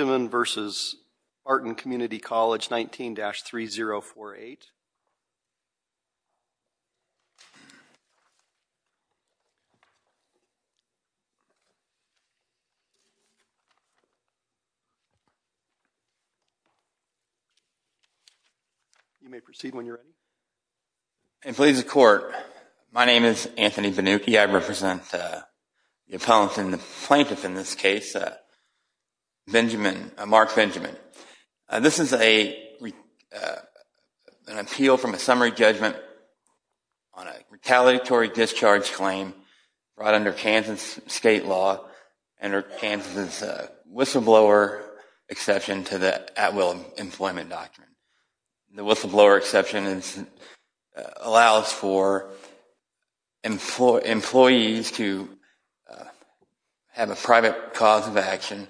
19-3048 You may proceed when you're ready My name is Anthony Vannucchi. I represent the plaintiff in this case, Mark Benjamin. This is an appeal from a summary judgment on a retaliatory discharge claim brought under Kansas state law under Kansas' whistleblower exception to the at-will employment doctrine. The whistleblower exception allows for employees to have a private cause of action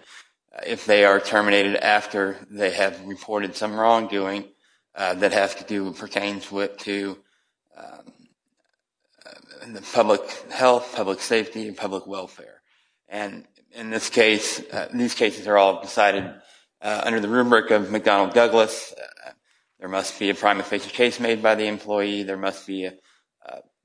if they are terminated after they have reported some wrongdoing that pertains to public health, public safety, and public welfare. And in this case, these cases are all decided under the rubric of McDonnell-Douglas. There must be a prima facie case made by the employee. And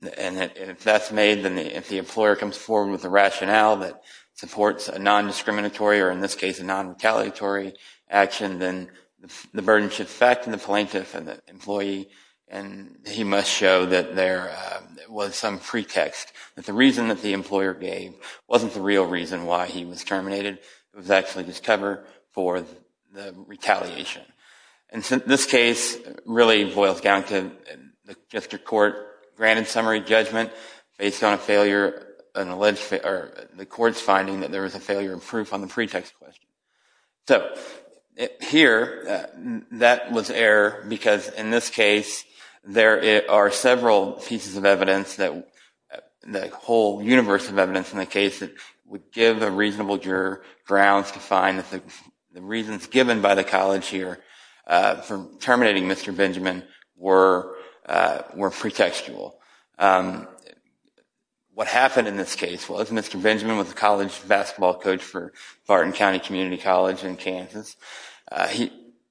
if that's made, then if the employer comes forward with a rationale that supports a non-discriminatory or, in this case, a non-retaliatory action, then the burden should affect the plaintiff and the employee. And he must show that there was some pretext, that the reason that the employer gave wasn't the real reason why he was terminated. It was actually just cover for the retaliation. And this case really boils down to the district court granted summary judgment based on the court's finding that there was a failure of proof on the pretext question. So here, that was error because, in this case, there are several pieces of evidence, the whole universe of evidence in the case that would give a reasonable juror grounds to find that the reasons given by the college here for terminating Mr. Benjamin were pretextual. What happened in this case was Mr. Benjamin was a college basketball coach for Barton County Community College in Kansas.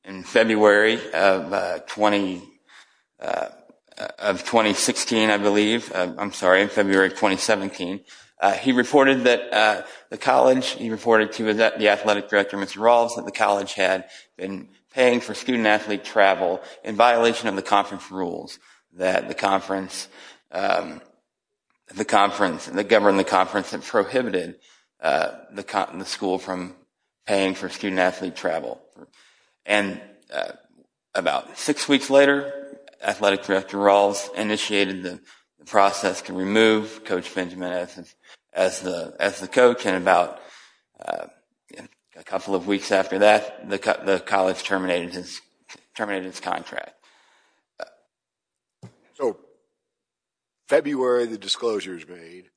In February of 2016, I believe, I'm sorry, in February of 2017, he reported that the college, he reported to the athletic director, Mr. Rawls, that the college had been paying for student-athlete travel in violation of the conference rules that govern the conference and prohibited the school from paying for student-athlete travel. And about six weeks later, athletic director Rawls initiated the process to remove Coach Benjamin as the coach. And about a couple of weeks after that, the college terminated its contract. So February, the disclosure is made.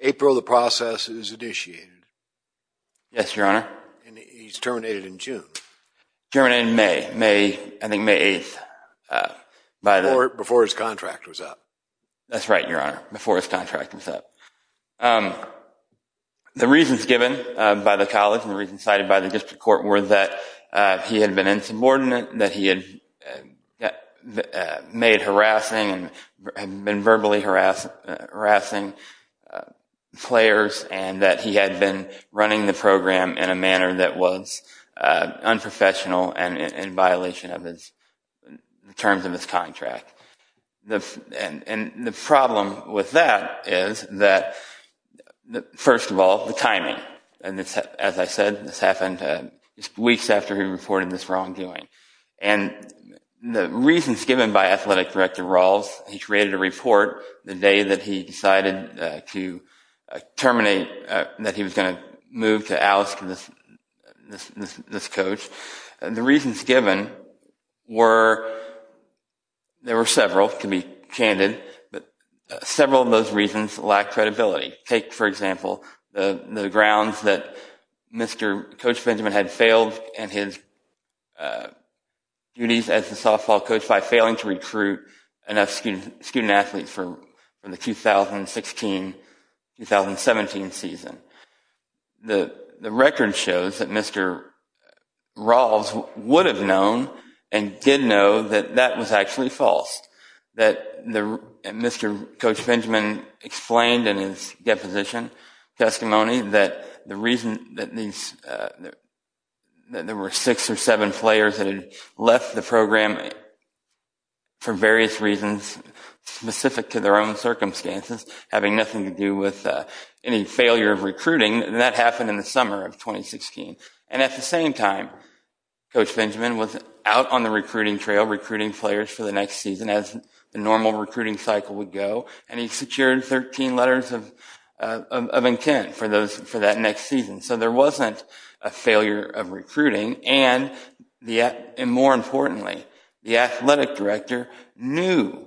April, the process is initiated. Yes, Your Honor. And he's terminated in June. Terminated in May, I think May 8th. Before his contract was up. That's right, Your Honor. Before his contract was up. The reasons given by the college and the reasons cited by the district court were that he had been insubordinate, that he had made harassing and had been verbally harassing players, and that he had been running the program in a manner that was unprofessional and in violation of the terms of his contract. And the problem with that is that, first of all, the timing. And as I said, this happened weeks after he reported this wrongdoing. And the reasons given by athletic director Rawls, he created a report the day that he decided to terminate, that he was going to move to oust this coach. The reasons given were, there were several, to be candid, but several of those reasons lacked credibility. Take, for example, the grounds that Mr. Coach Benjamin had failed in his duties as a softball coach by failing to recruit enough student athletes for the 2016-2017 season. The record shows that Mr. Rawls would have known and did know that that was actually false. Mr. Coach Benjamin explained in his deposition testimony that the reason that there were six or seven players that had left the program for various reasons specific to their own circumstances, having nothing to do with any failure of recruiting, that happened in the summer of 2016. And at the same time, Coach Benjamin was out on the recruiting trail, recruiting players for the next season as the normal recruiting cycle would go. And he secured 13 letters of intent for that next season. So there wasn't a failure of recruiting. And more importantly, the athletic director knew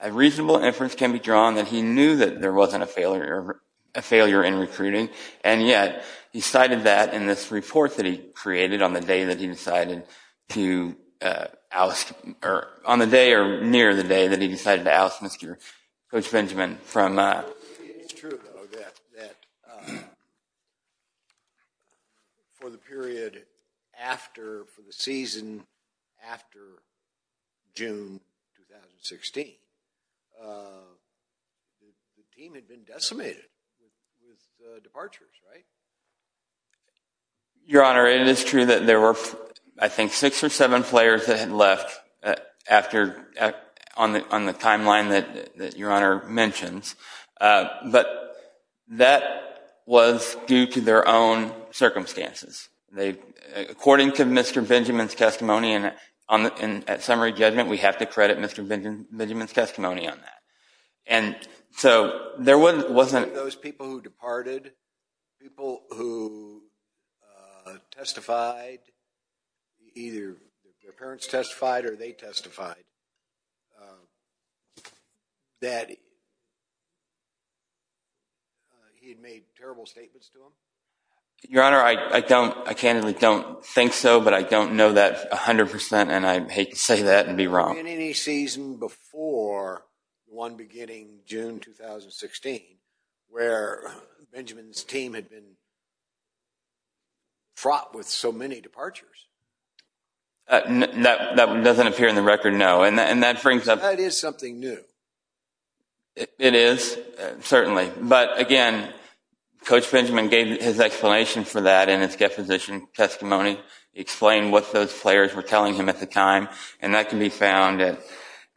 a reasonable inference can be drawn that he knew that there wasn't a failure in recruiting. And yet, he cited that in this report that he created on the day that he decided to oust, or on the day or near the day that he decided to oust Mr. Coach Benjamin. It's true, though, that for the period after, for the season after June 2016, the team had been decimated with departures, right? Your Honor, it is true that there were, I think, six or seven players that had left on the timeline that Your Honor mentions. But that was due to their own circumstances. According to Mr. Benjamin's testimony, and at summary judgment, we have to credit Mr. Benjamin's testimony on that. And so there wasn't— —people who testified, either their parents testified or they testified, that he had made terrible statements to them? Your Honor, I don't—I candidly don't think so, but I don't know that 100%, and I'd hate to say that and be wrong. Was there any season before the one beginning June 2016 where Benjamin's team had been fraught with so many departures? That doesn't appear in the record, no. And that brings up— That is something new. It is, certainly. But again, Coach Benjamin gave his explanation for that in his deposition testimony, explained what those players were telling him at the time, and that can be found in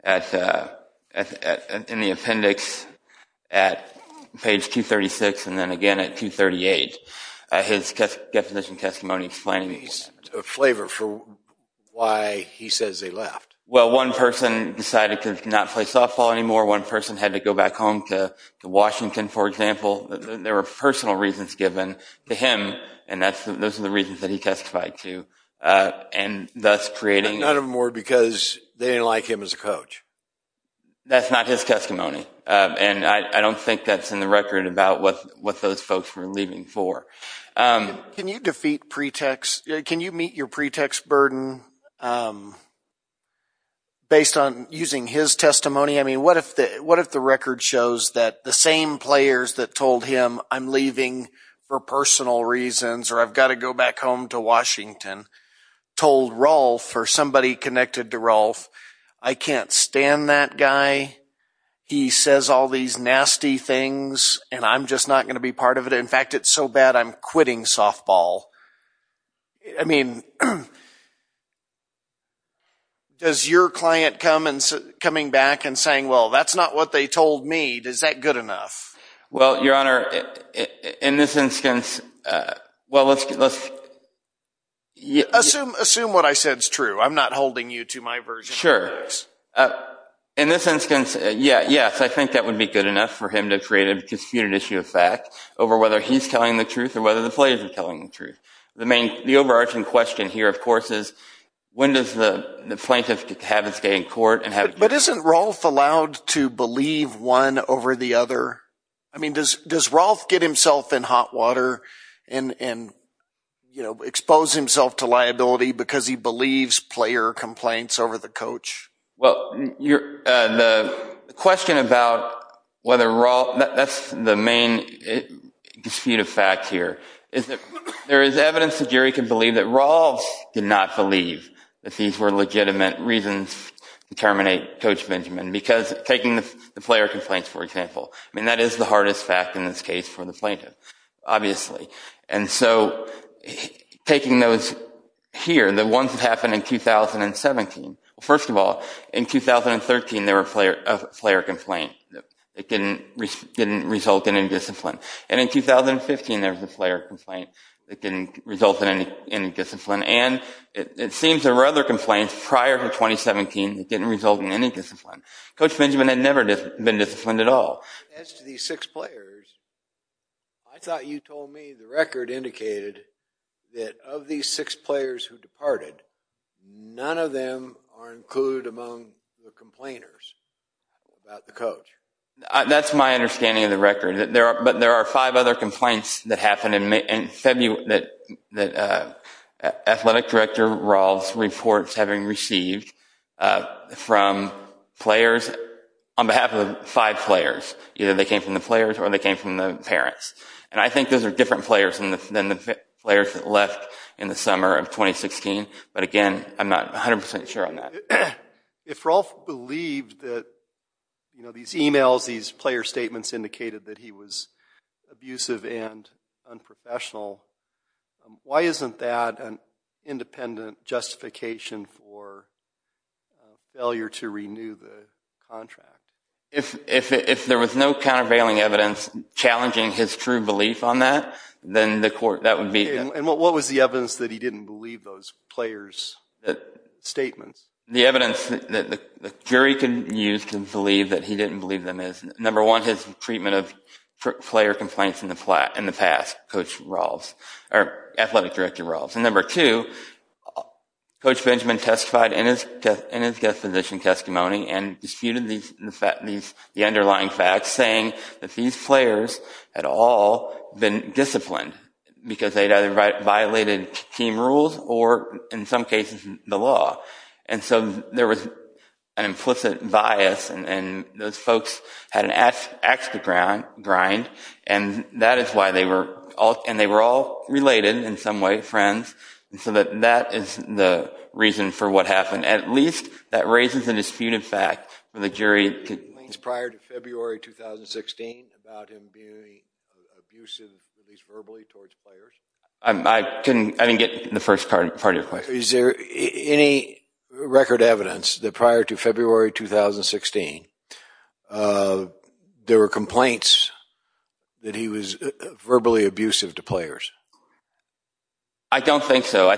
the appendix at page 236 and then again at 238, his deposition testimony explaining— A flavor for why he says they left. Well, one person decided to not play softball anymore. One person had to go back home to Washington, for example. There were personal reasons given to him, and those are the reasons that he testified to, and thus creating— None of them were because they didn't like him as a coach. That's not his testimony, and I don't think that's in the record about what those folks were leaving for. Can you defeat pretext—can you meet your pretext burden based on using his testimony? I mean, what if the record shows that the same players that told him, I'm leaving for personal reasons or I've got to go back home to Washington, told Rolf or somebody connected to Rolf, I can't stand that guy. He says all these nasty things, and I'm just not going to be part of it. In fact, it's so bad I'm quitting softball. I mean, does your client come back and saying, well, that's not what they told me. Is that good enough? Well, Your Honor, in this instance— Assume what I said is true. I'm not holding you to my version of the case. Sure. In this instance, yes, I think that would be good enough for him to create a disputed issue of fact over whether he's telling the truth or whether the players are telling the truth. The overarching question here, of course, is when does the plaintiff have his day in court? But isn't Rolf allowed to believe one over the other? I mean, does Rolf get himself in hot water and expose himself to liability because he believes player complaints over the coach? Well, the question about whether Rolf—that's the main dispute of fact here. There is evidence that Jerry can believe that Rolf did not believe that these were legitimate reasons to terminate Coach Benjamin. Because taking the player complaints, for example, I mean, that is the hardest fact in this case for the plaintiff, obviously. And so taking those here, the ones that happened in 2017, first of all, in 2013 there were player complaints that didn't result in indiscipline. And in 2015 there was a player complaint that didn't result in indiscipline. And it seems there were other complaints prior to 2017 that didn't result in any discipline. Coach Benjamin had never been disciplined at all. As to these six players, I thought you told me the record indicated that of these six players who departed, none of them are included among the complainers about the coach. That's my understanding of the record. But there are five other complaints that happened in February that Athletic Director Rolf's reports having received from players on behalf of five players. Either they came from the players or they came from the parents. And I think those are different players than the players that left in the summer of 2016. But again, I'm not 100 percent sure on that. If Rolf believed that these emails, these player statements indicated that he was abusive and unprofessional, why isn't that an independent justification for failure to renew the contract? If there was no countervailing evidence challenging his true belief on that, then the court, that would be... And what was the evidence that he didn't believe those players' statements? The evidence that the jury can use to believe that he didn't believe them is, number one, his treatment of player complaints in the past, Athletic Director Rolf's. And number two, Coach Benjamin testified in his guest physician testimony and disputed the underlying facts saying that these players had all been disciplined because they'd either violated team rules or, in some cases, the law. And so there was an implicit bias, and those folks had an axe to grind, and that is why they were all related in some way, friends. And so that is the reason for what happened. At least that raises a disputed fact for the jury. Were there any complaints prior to February 2016 about him being abusive, at least verbally, towards players? I didn't get the first part of your question. Is there any record evidence that prior to February 2016, there were complaints that he was verbally abusive to players? I don't think so.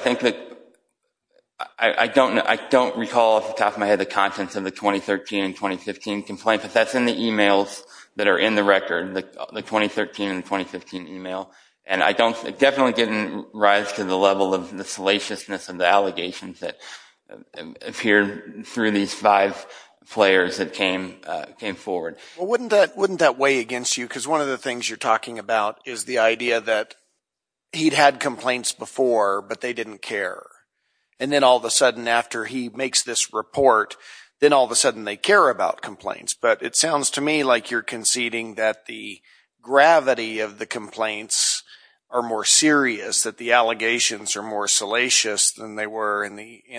I don't recall off the top of my head the contents of the 2013 and 2015 complaint, but that's in the e-mails that are in the record, the 2013 and 2015 e-mail. And it definitely didn't rise to the level of the salaciousness of the allegations that appeared through these five players that came forward. Well, wouldn't that weigh against you? Because one of the things you're talking about is the idea that he'd had complaints before, but they didn't care, and then all of a sudden after he makes this report, then all of a sudden they care about complaints. But it sounds to me like you're conceding that the gravity of the complaints are more serious, that the allegations are more salacious than they were in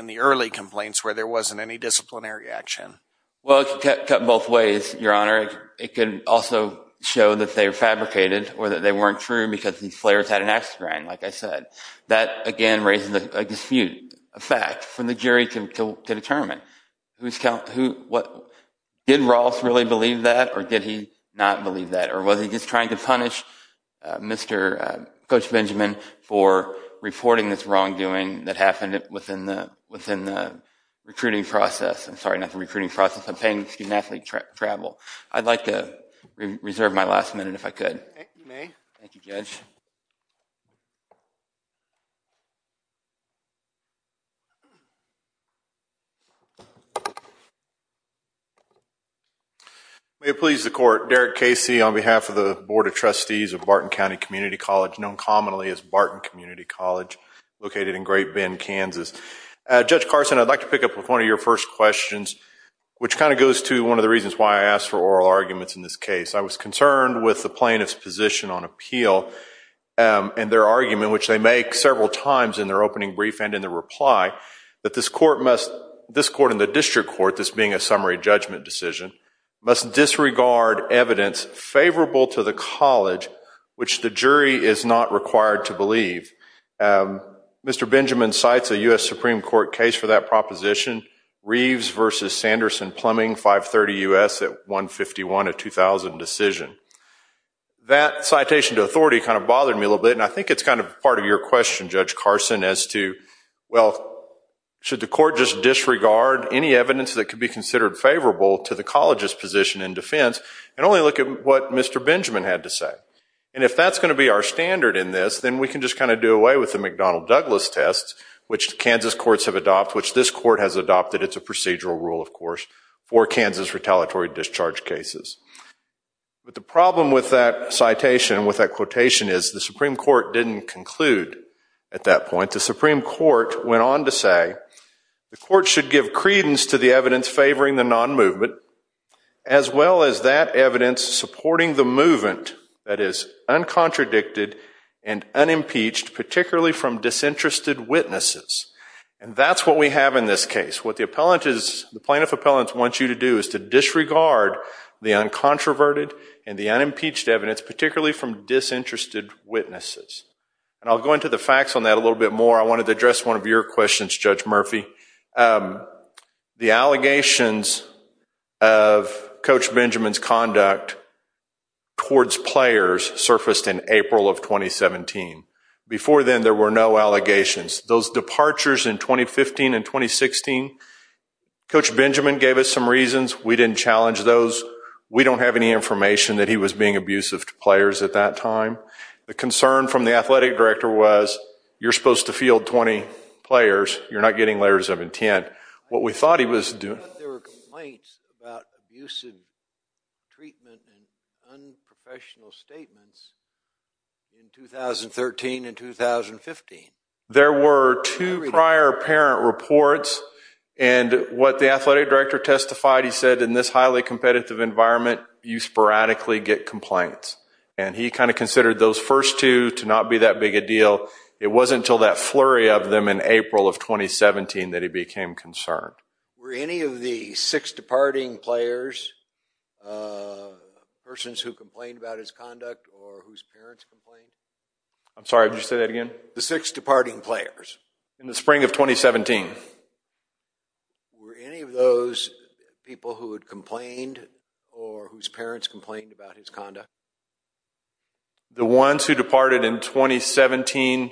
the early complaints where there wasn't any disciplinary action. Well, it could cut both ways, Your Honor. It could also show that they were fabricated or that they weren't true because these players had an ax to grind, like I said. That, again, raises a dispute, a fact for the jury to determine. Did Ross really believe that, or did he not believe that? Or was he just trying to punish Coach Benjamin for reporting this wrongdoing that happened within the recruiting process? I'm sorry, not the recruiting process. I'm paying student-athlete travel. I'd like to reserve my last minute if I could. You may. Thank you, Judge. May it please the Court. Derek Casey on behalf of the Board of Trustees of Barton County Community College, known commonly as Barton Community College, located in Great Bend, Kansas. Judge Carson, I'd like to pick up with one of your first questions, which kind of goes to one of the reasons why I asked for oral arguments in this case. I was concerned with the plaintiff's position on appeal and their argument, which they make several times in their opening brief and in their reply, that this court and the district court, this being a summary judgment decision, must disregard evidence favorable to the college, which the jury is not required to believe. Mr. Benjamin cites a U.S. Supreme Court case for that proposition, Reeves v. Sanderson-Plumbing, 530 U.S., at 151, a 2000 decision. That citation to authority kind of bothered me a little bit, and I think it's kind of part of your question, Judge Carson, as to, well, should the court just disregard any evidence that could be considered favorable to the college's position in defense and only look at what Mr. Benjamin had to say? And if that's going to be our standard in this, then we can just kind of do away with the McDonnell-Douglas test, which Kansas courts have adopted, which this court has adopted. It's a procedural rule, of course, for Kansas retaliatory discharge cases. But the problem with that citation, with that quotation, is the Supreme Court didn't conclude at that point. The Supreme Court went on to say, the court should give credence to the evidence favoring the non-movement as well as that evidence supporting the movement that is uncontradicted and unimpeached, particularly from disinterested witnesses. And that's what we have in this case. What the plaintiff appellant wants you to do is to disregard the uncontroverted and the unimpeached evidence, particularly from disinterested witnesses. And I'll go into the facts on that a little bit more. I wanted to address one of your questions, Judge Murphy. The allegations of Coach Benjamin's conduct towards players surfaced in April of 2017. Before then, there were no allegations. Those departures in 2015 and 2016, Coach Benjamin gave us some reasons. We didn't challenge those. We don't have any information that he was being abusive to players at that time. The concern from the athletic director was, you're supposed to field 20 players, you're not getting letters of intent. I thought there were complaints about abusive treatment and unprofessional statements in 2013 and 2015. There were two prior parent reports, and what the athletic director testified, he said, in this highly competitive environment, you sporadically get complaints. And he kind of considered those first two to not be that big a deal. It wasn't until that flurry of them in April of 2017 that he became concerned. Were any of the six departing players persons who complained about his conduct or whose parents complained? I'm sorry, would you say that again? The six departing players. In the spring of 2017. Were any of those people who had complained or whose parents complained about his conduct? The ones who departed in 2017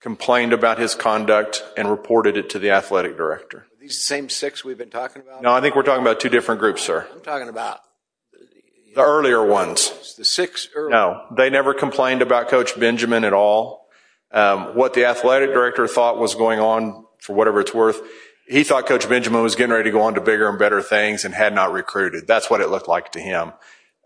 complained about his conduct and reported it to the athletic director. Are these the same six we've been talking about? No, I think we're talking about two different groups, sir. We're talking about the earlier ones. No, they never complained about Coach Benjamin at all. What the athletic director thought was going on, for whatever it's worth, he thought Coach Benjamin was getting ready to go on to bigger and better things and had not recruited. That's what it looked like to him.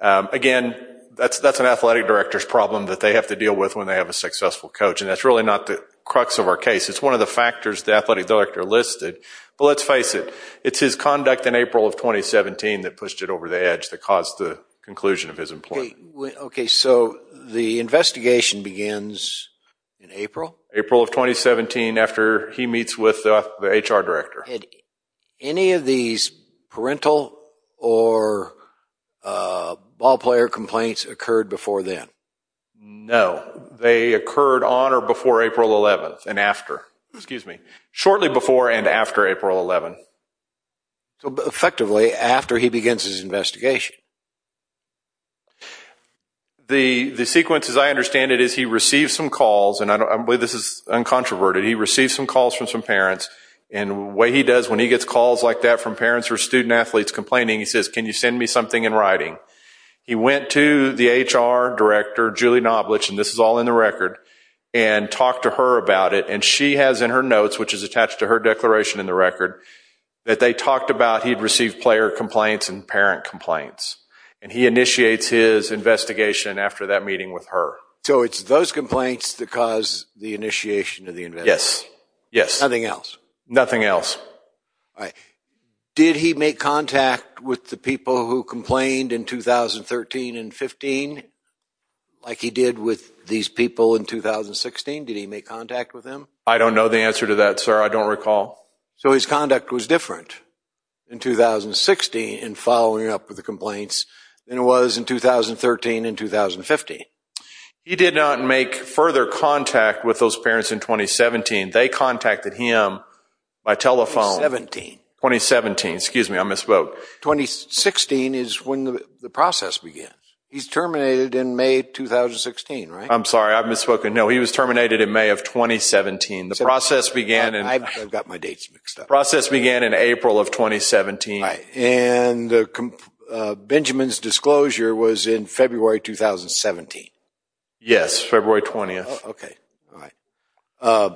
Again, that's an athletic director's problem that they have to deal with when they have a successful coach, and that's really not the crux of our case. It's one of the factors the athletic director listed. But let's face it, it's his conduct in April of 2017 that pushed it over the edge that caused the conclusion of his employment. Okay, so the investigation begins in April? April of 2017 after he meets with the HR director. Had any of these parental or ballplayer complaints occurred before then? No, they occurred on or before April 11th and after. Shortly before and after April 11th. Effectively, after he begins his investigation. The sequence, as I understand it, is he receives some calls, and I believe this is uncontroverted, he receives some calls from some parents, and what he does when he gets calls like that from parents or student athletes complaining, he says, can you send me something in writing? He went to the HR director, Julie Knoblich, and this is all in the record, and talked to her about it, and she has in her notes, which is attached to her declaration in the record, that they talked about he'd received player complaints and parent complaints. And he initiates his investigation after that meeting with her. So it's those complaints that cause the initiation of the investigation? Yes, yes. Nothing else? Nothing else. All right. Did he make contact with the people who complained in 2013 and 15, like he did with these people in 2016? Did he make contact with them? I don't know the answer to that, sir. I don't recall. So his conduct was different in 2016 in following up with the complaints than it was in 2013 and 2015? He did not make further contact with those parents in 2017. They contacted him by telephone. 2017. 2017. Excuse me, I misspoke. 2016 is when the process began. He's terminated in May 2016, right? I'm sorry, I've misspoken. No, he was terminated in May of 2017. The process began in April of 2017. And Benjamin's disclosure was in February 2017? Yes, February 20th. Okay. All right.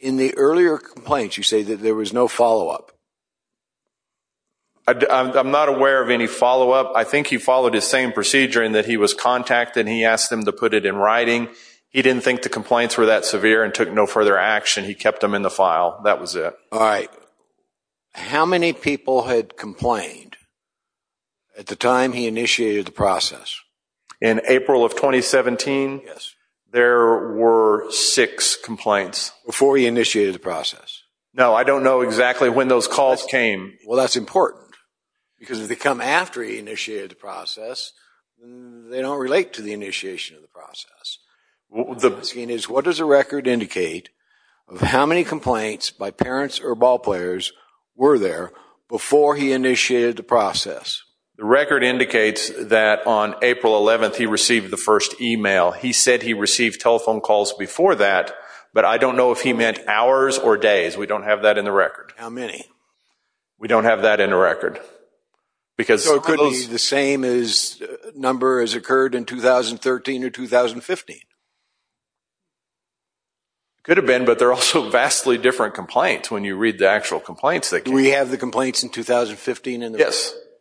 In the earlier complaints, you say that there was no follow-up? I'm not aware of any follow-up. I think he followed his same procedure in that he was contacted, he asked them to put it in writing. He didn't think the complaints were that severe and took no further action. He kept them in the file. That was it. All right. How many people had complained at the time he initiated the process? In April of 2017, there were six complaints. Before he initiated the process? No, I don't know exactly when those calls came. Well, that's important because if they come after he initiated the process, they don't relate to the initiation of the process. What does the record indicate of how many complaints by parents or ballplayers were there before he initiated the process? The record indicates that on April 11th, he received the first email. He said he received telephone calls before that, but I don't know if he meant hours or days. We don't have that in the record. How many? We don't have that in the record. So it could be the same number as occurred in 2013 or 2015? It could have been, but they're also vastly different complaints when you read the actual complaints. Do we have the complaints in 2015 in the record?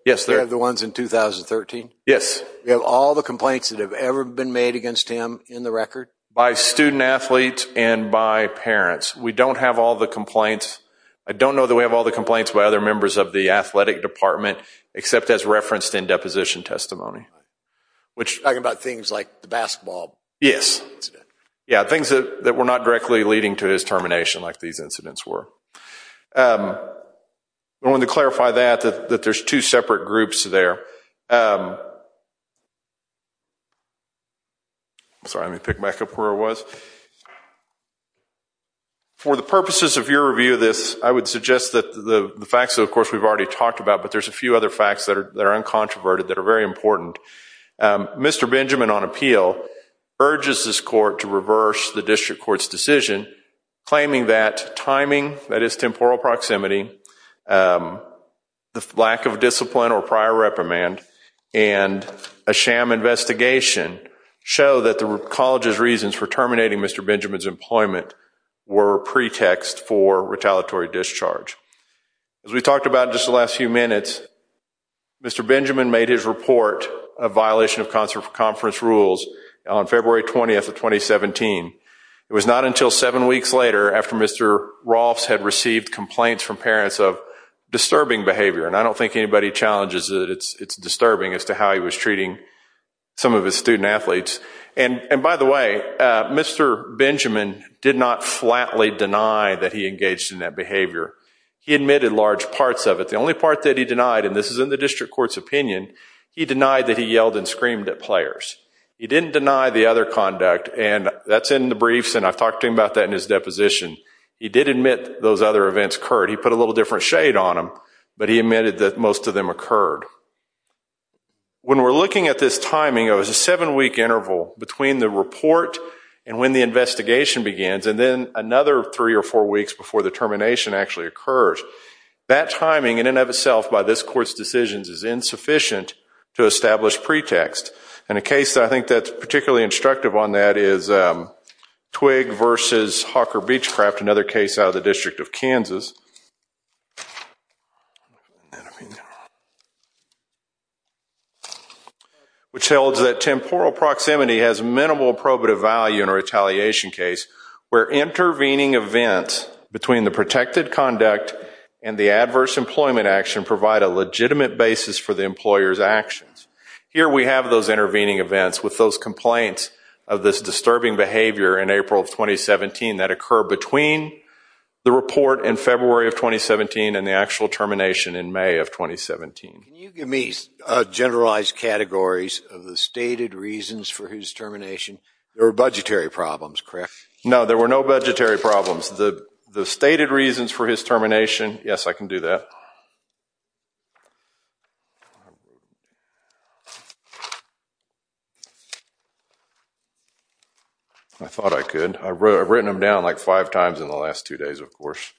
Yes. Do we have the ones in 2013? Yes. Do we have all the complaints that have ever been made against him in the record? By student athlete and by parents. We don't have all the complaints. I don't know that we have all the complaints by other members of the athletic department, except as referenced in deposition testimony. Talking about things like the basketball incident? Yes, things that were not directly leading to his termination, like these incidents were. I wanted to clarify that, that there's two separate groups there. Sorry, let me pick back up where I was. For the purposes of your review of this, I would suggest that the facts, of course, we've already talked about, but there's a few other facts that are uncontroverted that are very important. Mr. Benjamin, on appeal, urges this court to reverse the district court's decision, claiming that timing, that is temporal proximity, the lack of discipline or prior reprimand, and a sham investigation show that the college's reasons for terminating Mr. Benjamin's employment were a pretext for retaliatory discharge. As we talked about in just the last few minutes, Mr. Benjamin made his report of violation of conference rules on February 20th of 2017. It was not until seven weeks later, after Mr. Rolfs had received complaints from parents of disturbing behavior, and I don't think anybody challenges that it's disturbing as to how he was treating some of his student athletes. By the way, Mr. Benjamin did not flatly deny that he engaged in that behavior. He admitted large parts of it. The only part that he denied, and this is in the district court's opinion, he denied that he yelled and screamed at players. He didn't deny the other conduct, and that's in the briefs, and I've talked to him about that in his deposition. He did admit those other events occurred. He put a little different shade on them, but he admitted that most of them occurred. When we're looking at this timing, it was a seven-week interval between the report and when the investigation begins, and then another three or four weeks before the termination actually occurs. That timing, in and of itself, by this court's decisions, is insufficient to establish pretext. And a case that I think that's particularly instructive on that is Twigg v. Hawker Beachcraft, another case out of the District of Kansas, which tells that temporal proximity has minimal probative value in a retaliation case where intervening events between the protected conduct and the adverse employment action provide a legitimate basis for the employer's actions. Here we have those intervening events with those complaints of this disturbing behavior in April of 2017 that occur between the report in February of 2017 and the actual termination in May of 2017. Can you give me generalized categories of the stated reasons for his termination? There were budgetary problems, correct? No, there were no budgetary problems. The stated reasons for his termination, yes, I can do that. I thought I could. I've written them down like five times in the last two days, of course.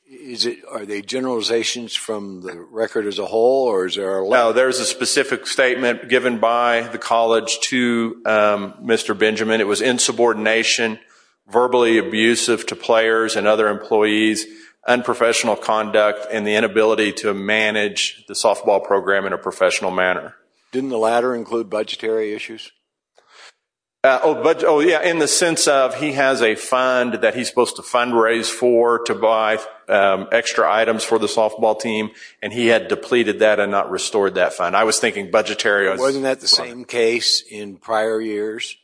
Are they generalizations from the record as a whole, or is there a letter? No, there's a specific statement given by the college to Mr. Benjamin. It was insubordination, verbally abusive to players and other employees, unprofessional conduct, and the inability to manage the softball program in a professional manner. Didn't the latter include budgetary issues? Oh, yeah, in the sense of he has a fund that he's supposed to fundraise for to buy extra items for the softball team, and he had depleted that and not restored that fund. I was thinking budgetary. Wasn't that the same case in prior years?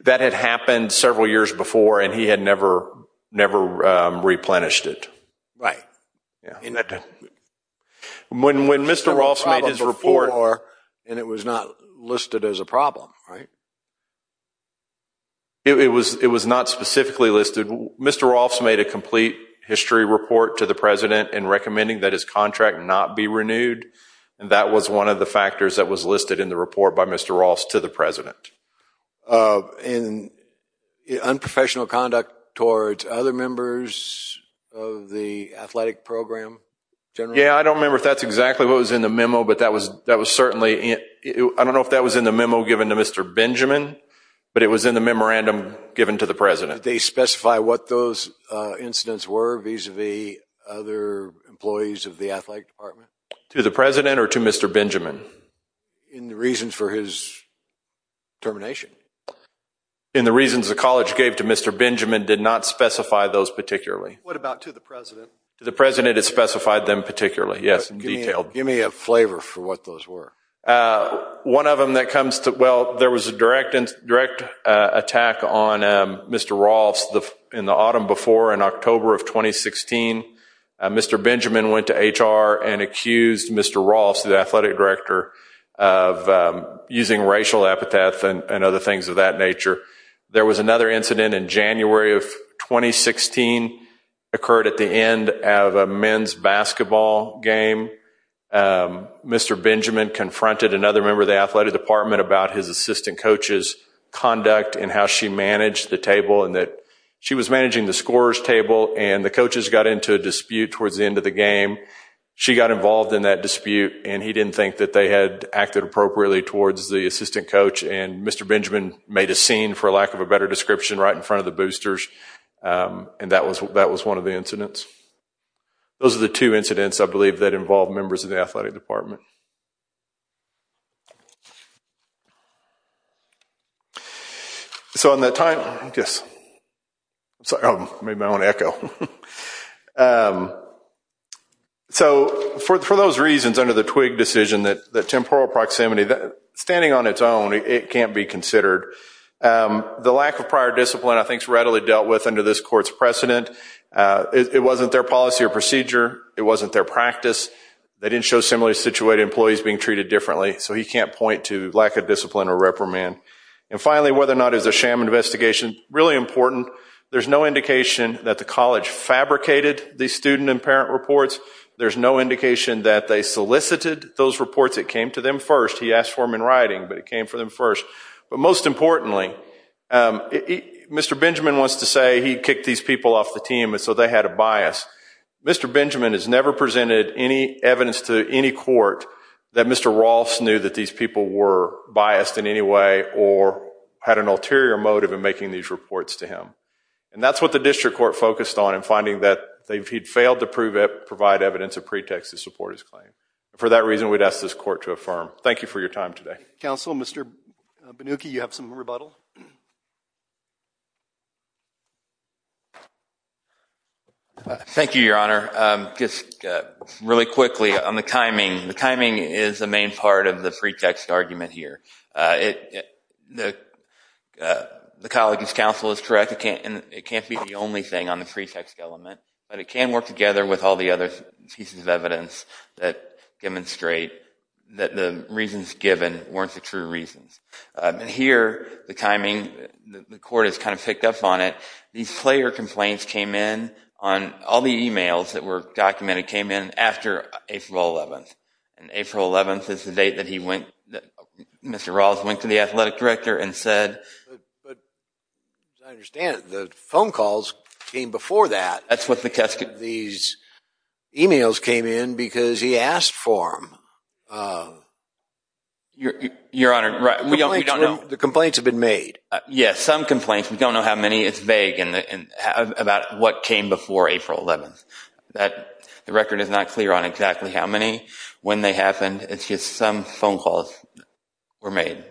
That had happened several years before, and he had never replenished it. Right. When Mr. Rolfs made his report. And it was not listed as a problem, right? It was not specifically listed. Mr. Rolfs made a complete history report to the president in recommending that his contract not be renewed, and that was one of the factors that was listed in the report by Mr. Rolfs to the president. And unprofessional conduct towards other members of the athletic program? Yeah, I don't remember if that's exactly what was in the memo, but that was certainly – I don't know if that was in the memo given to Mr. Benjamin, but it was in the memorandum given to the president. Did they specify what those incidents were vis-à-vis other employees of the athletic department? To the president or to Mr. Benjamin? In the reasons for his termination. In the reasons the college gave to Mr. Benjamin, did not specify those particularly. What about to the president? To the president, it specified them particularly, yes, in detail. Give me a flavor for what those were. One of them that comes to – well, there was a direct attack on Mr. Rolfs in the autumn before in October of 2016. Mr. Benjamin went to HR and accused Mr. Rolfs, the athletic director, of using racial epitaph and other things of that nature. There was another incident in January of 2016, occurred at the end of a men's basketball game. Mr. Benjamin confronted another member of the athletic department about his assistant coach's conduct and how she managed the table and that she was managing the scorer's table, She got involved in that dispute and he didn't think that they had acted appropriately towards the assistant coach. And Mr. Benjamin made a scene, for lack of a better description, right in front of the boosters. And that was one of the incidents. Those are the two incidents, I believe, that involved members of the athletic department. So in that time – yes. I'm sorry, I made my own echo. So for those reasons under the Twigg decision, that temporal proximity, standing on its own, it can't be considered. The lack of prior discipline, I think, is readily dealt with under this court's precedent. It wasn't their policy or procedure. It wasn't their practice. They didn't show similarly situated employment. So he can't point to lack of discipline or reprimand. And finally, whether or not it was a sham investigation, really important. There's no indication that the college fabricated the student and parent reports. There's no indication that they solicited those reports. It came to them first. He asked for them in writing, but it came to them first. But most importantly, Mr. Benjamin wants to say he kicked these people off the team, so they had a bias. Mr. Benjamin has never presented any evidence to any court that Mr. Rolfes knew that these people were biased in any way or had an ulterior motive in making these reports to him. And that's what the district court focused on in finding that he'd failed to provide evidence of pretext to support his claim. For that reason, we'd ask this court to affirm. Thank you for your time today. Counsel, Mr. Banucchi, you have some rebuttal? Thank you, Your Honor. Just really quickly on the timing. The timing is the main part of the pretext argument here. The college's counsel is correct. It can't be the only thing on the pretext element, but it can work together with all the other pieces of evidence that demonstrate that the reasons given weren't the true reasons. And here, the timing, the court has kind of picked up on it. These player complaints came in on all the e-mails that were documented came in after April 11th. And April 11th is the date that Mr. Rolfes went to the athletic director and said... But as I understand it, the phone calls came before that. That's what the... These e-mails came in because he asked for them. Your Honor, we don't know... The complaints have been made. Yes, some complaints. We don't know how many. It's vague about what came before April 11th. The record is not clear on exactly how many, when they happened. It's just some phone calls were made.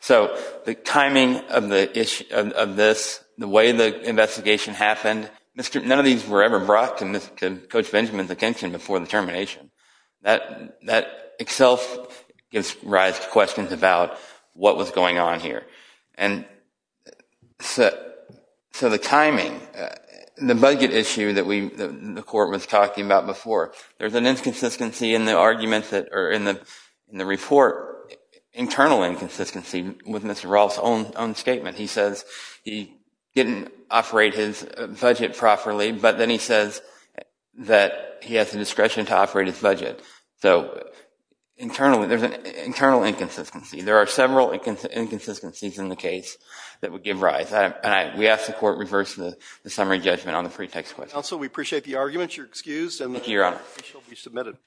So the timing of this, the way the investigation happened, none of these were ever brought to Coach Benjamin's attention before the termination. That itself gives rise to questions about what was going on here. So the timing, the budget issue that the court was talking about before, there's an inconsistency in the report, internal inconsistency with Mr. Rolfes' own statement. He says he didn't operate his budget properly, but then he says that he has the discretion to operate his budget. So internally, there's an internal inconsistency. There are several inconsistencies in the case that would give rise. We ask the court reverse the summary judgment on the pretext question. Counsel, we appreciate the arguments. You're excused. Thank you, Your Honor.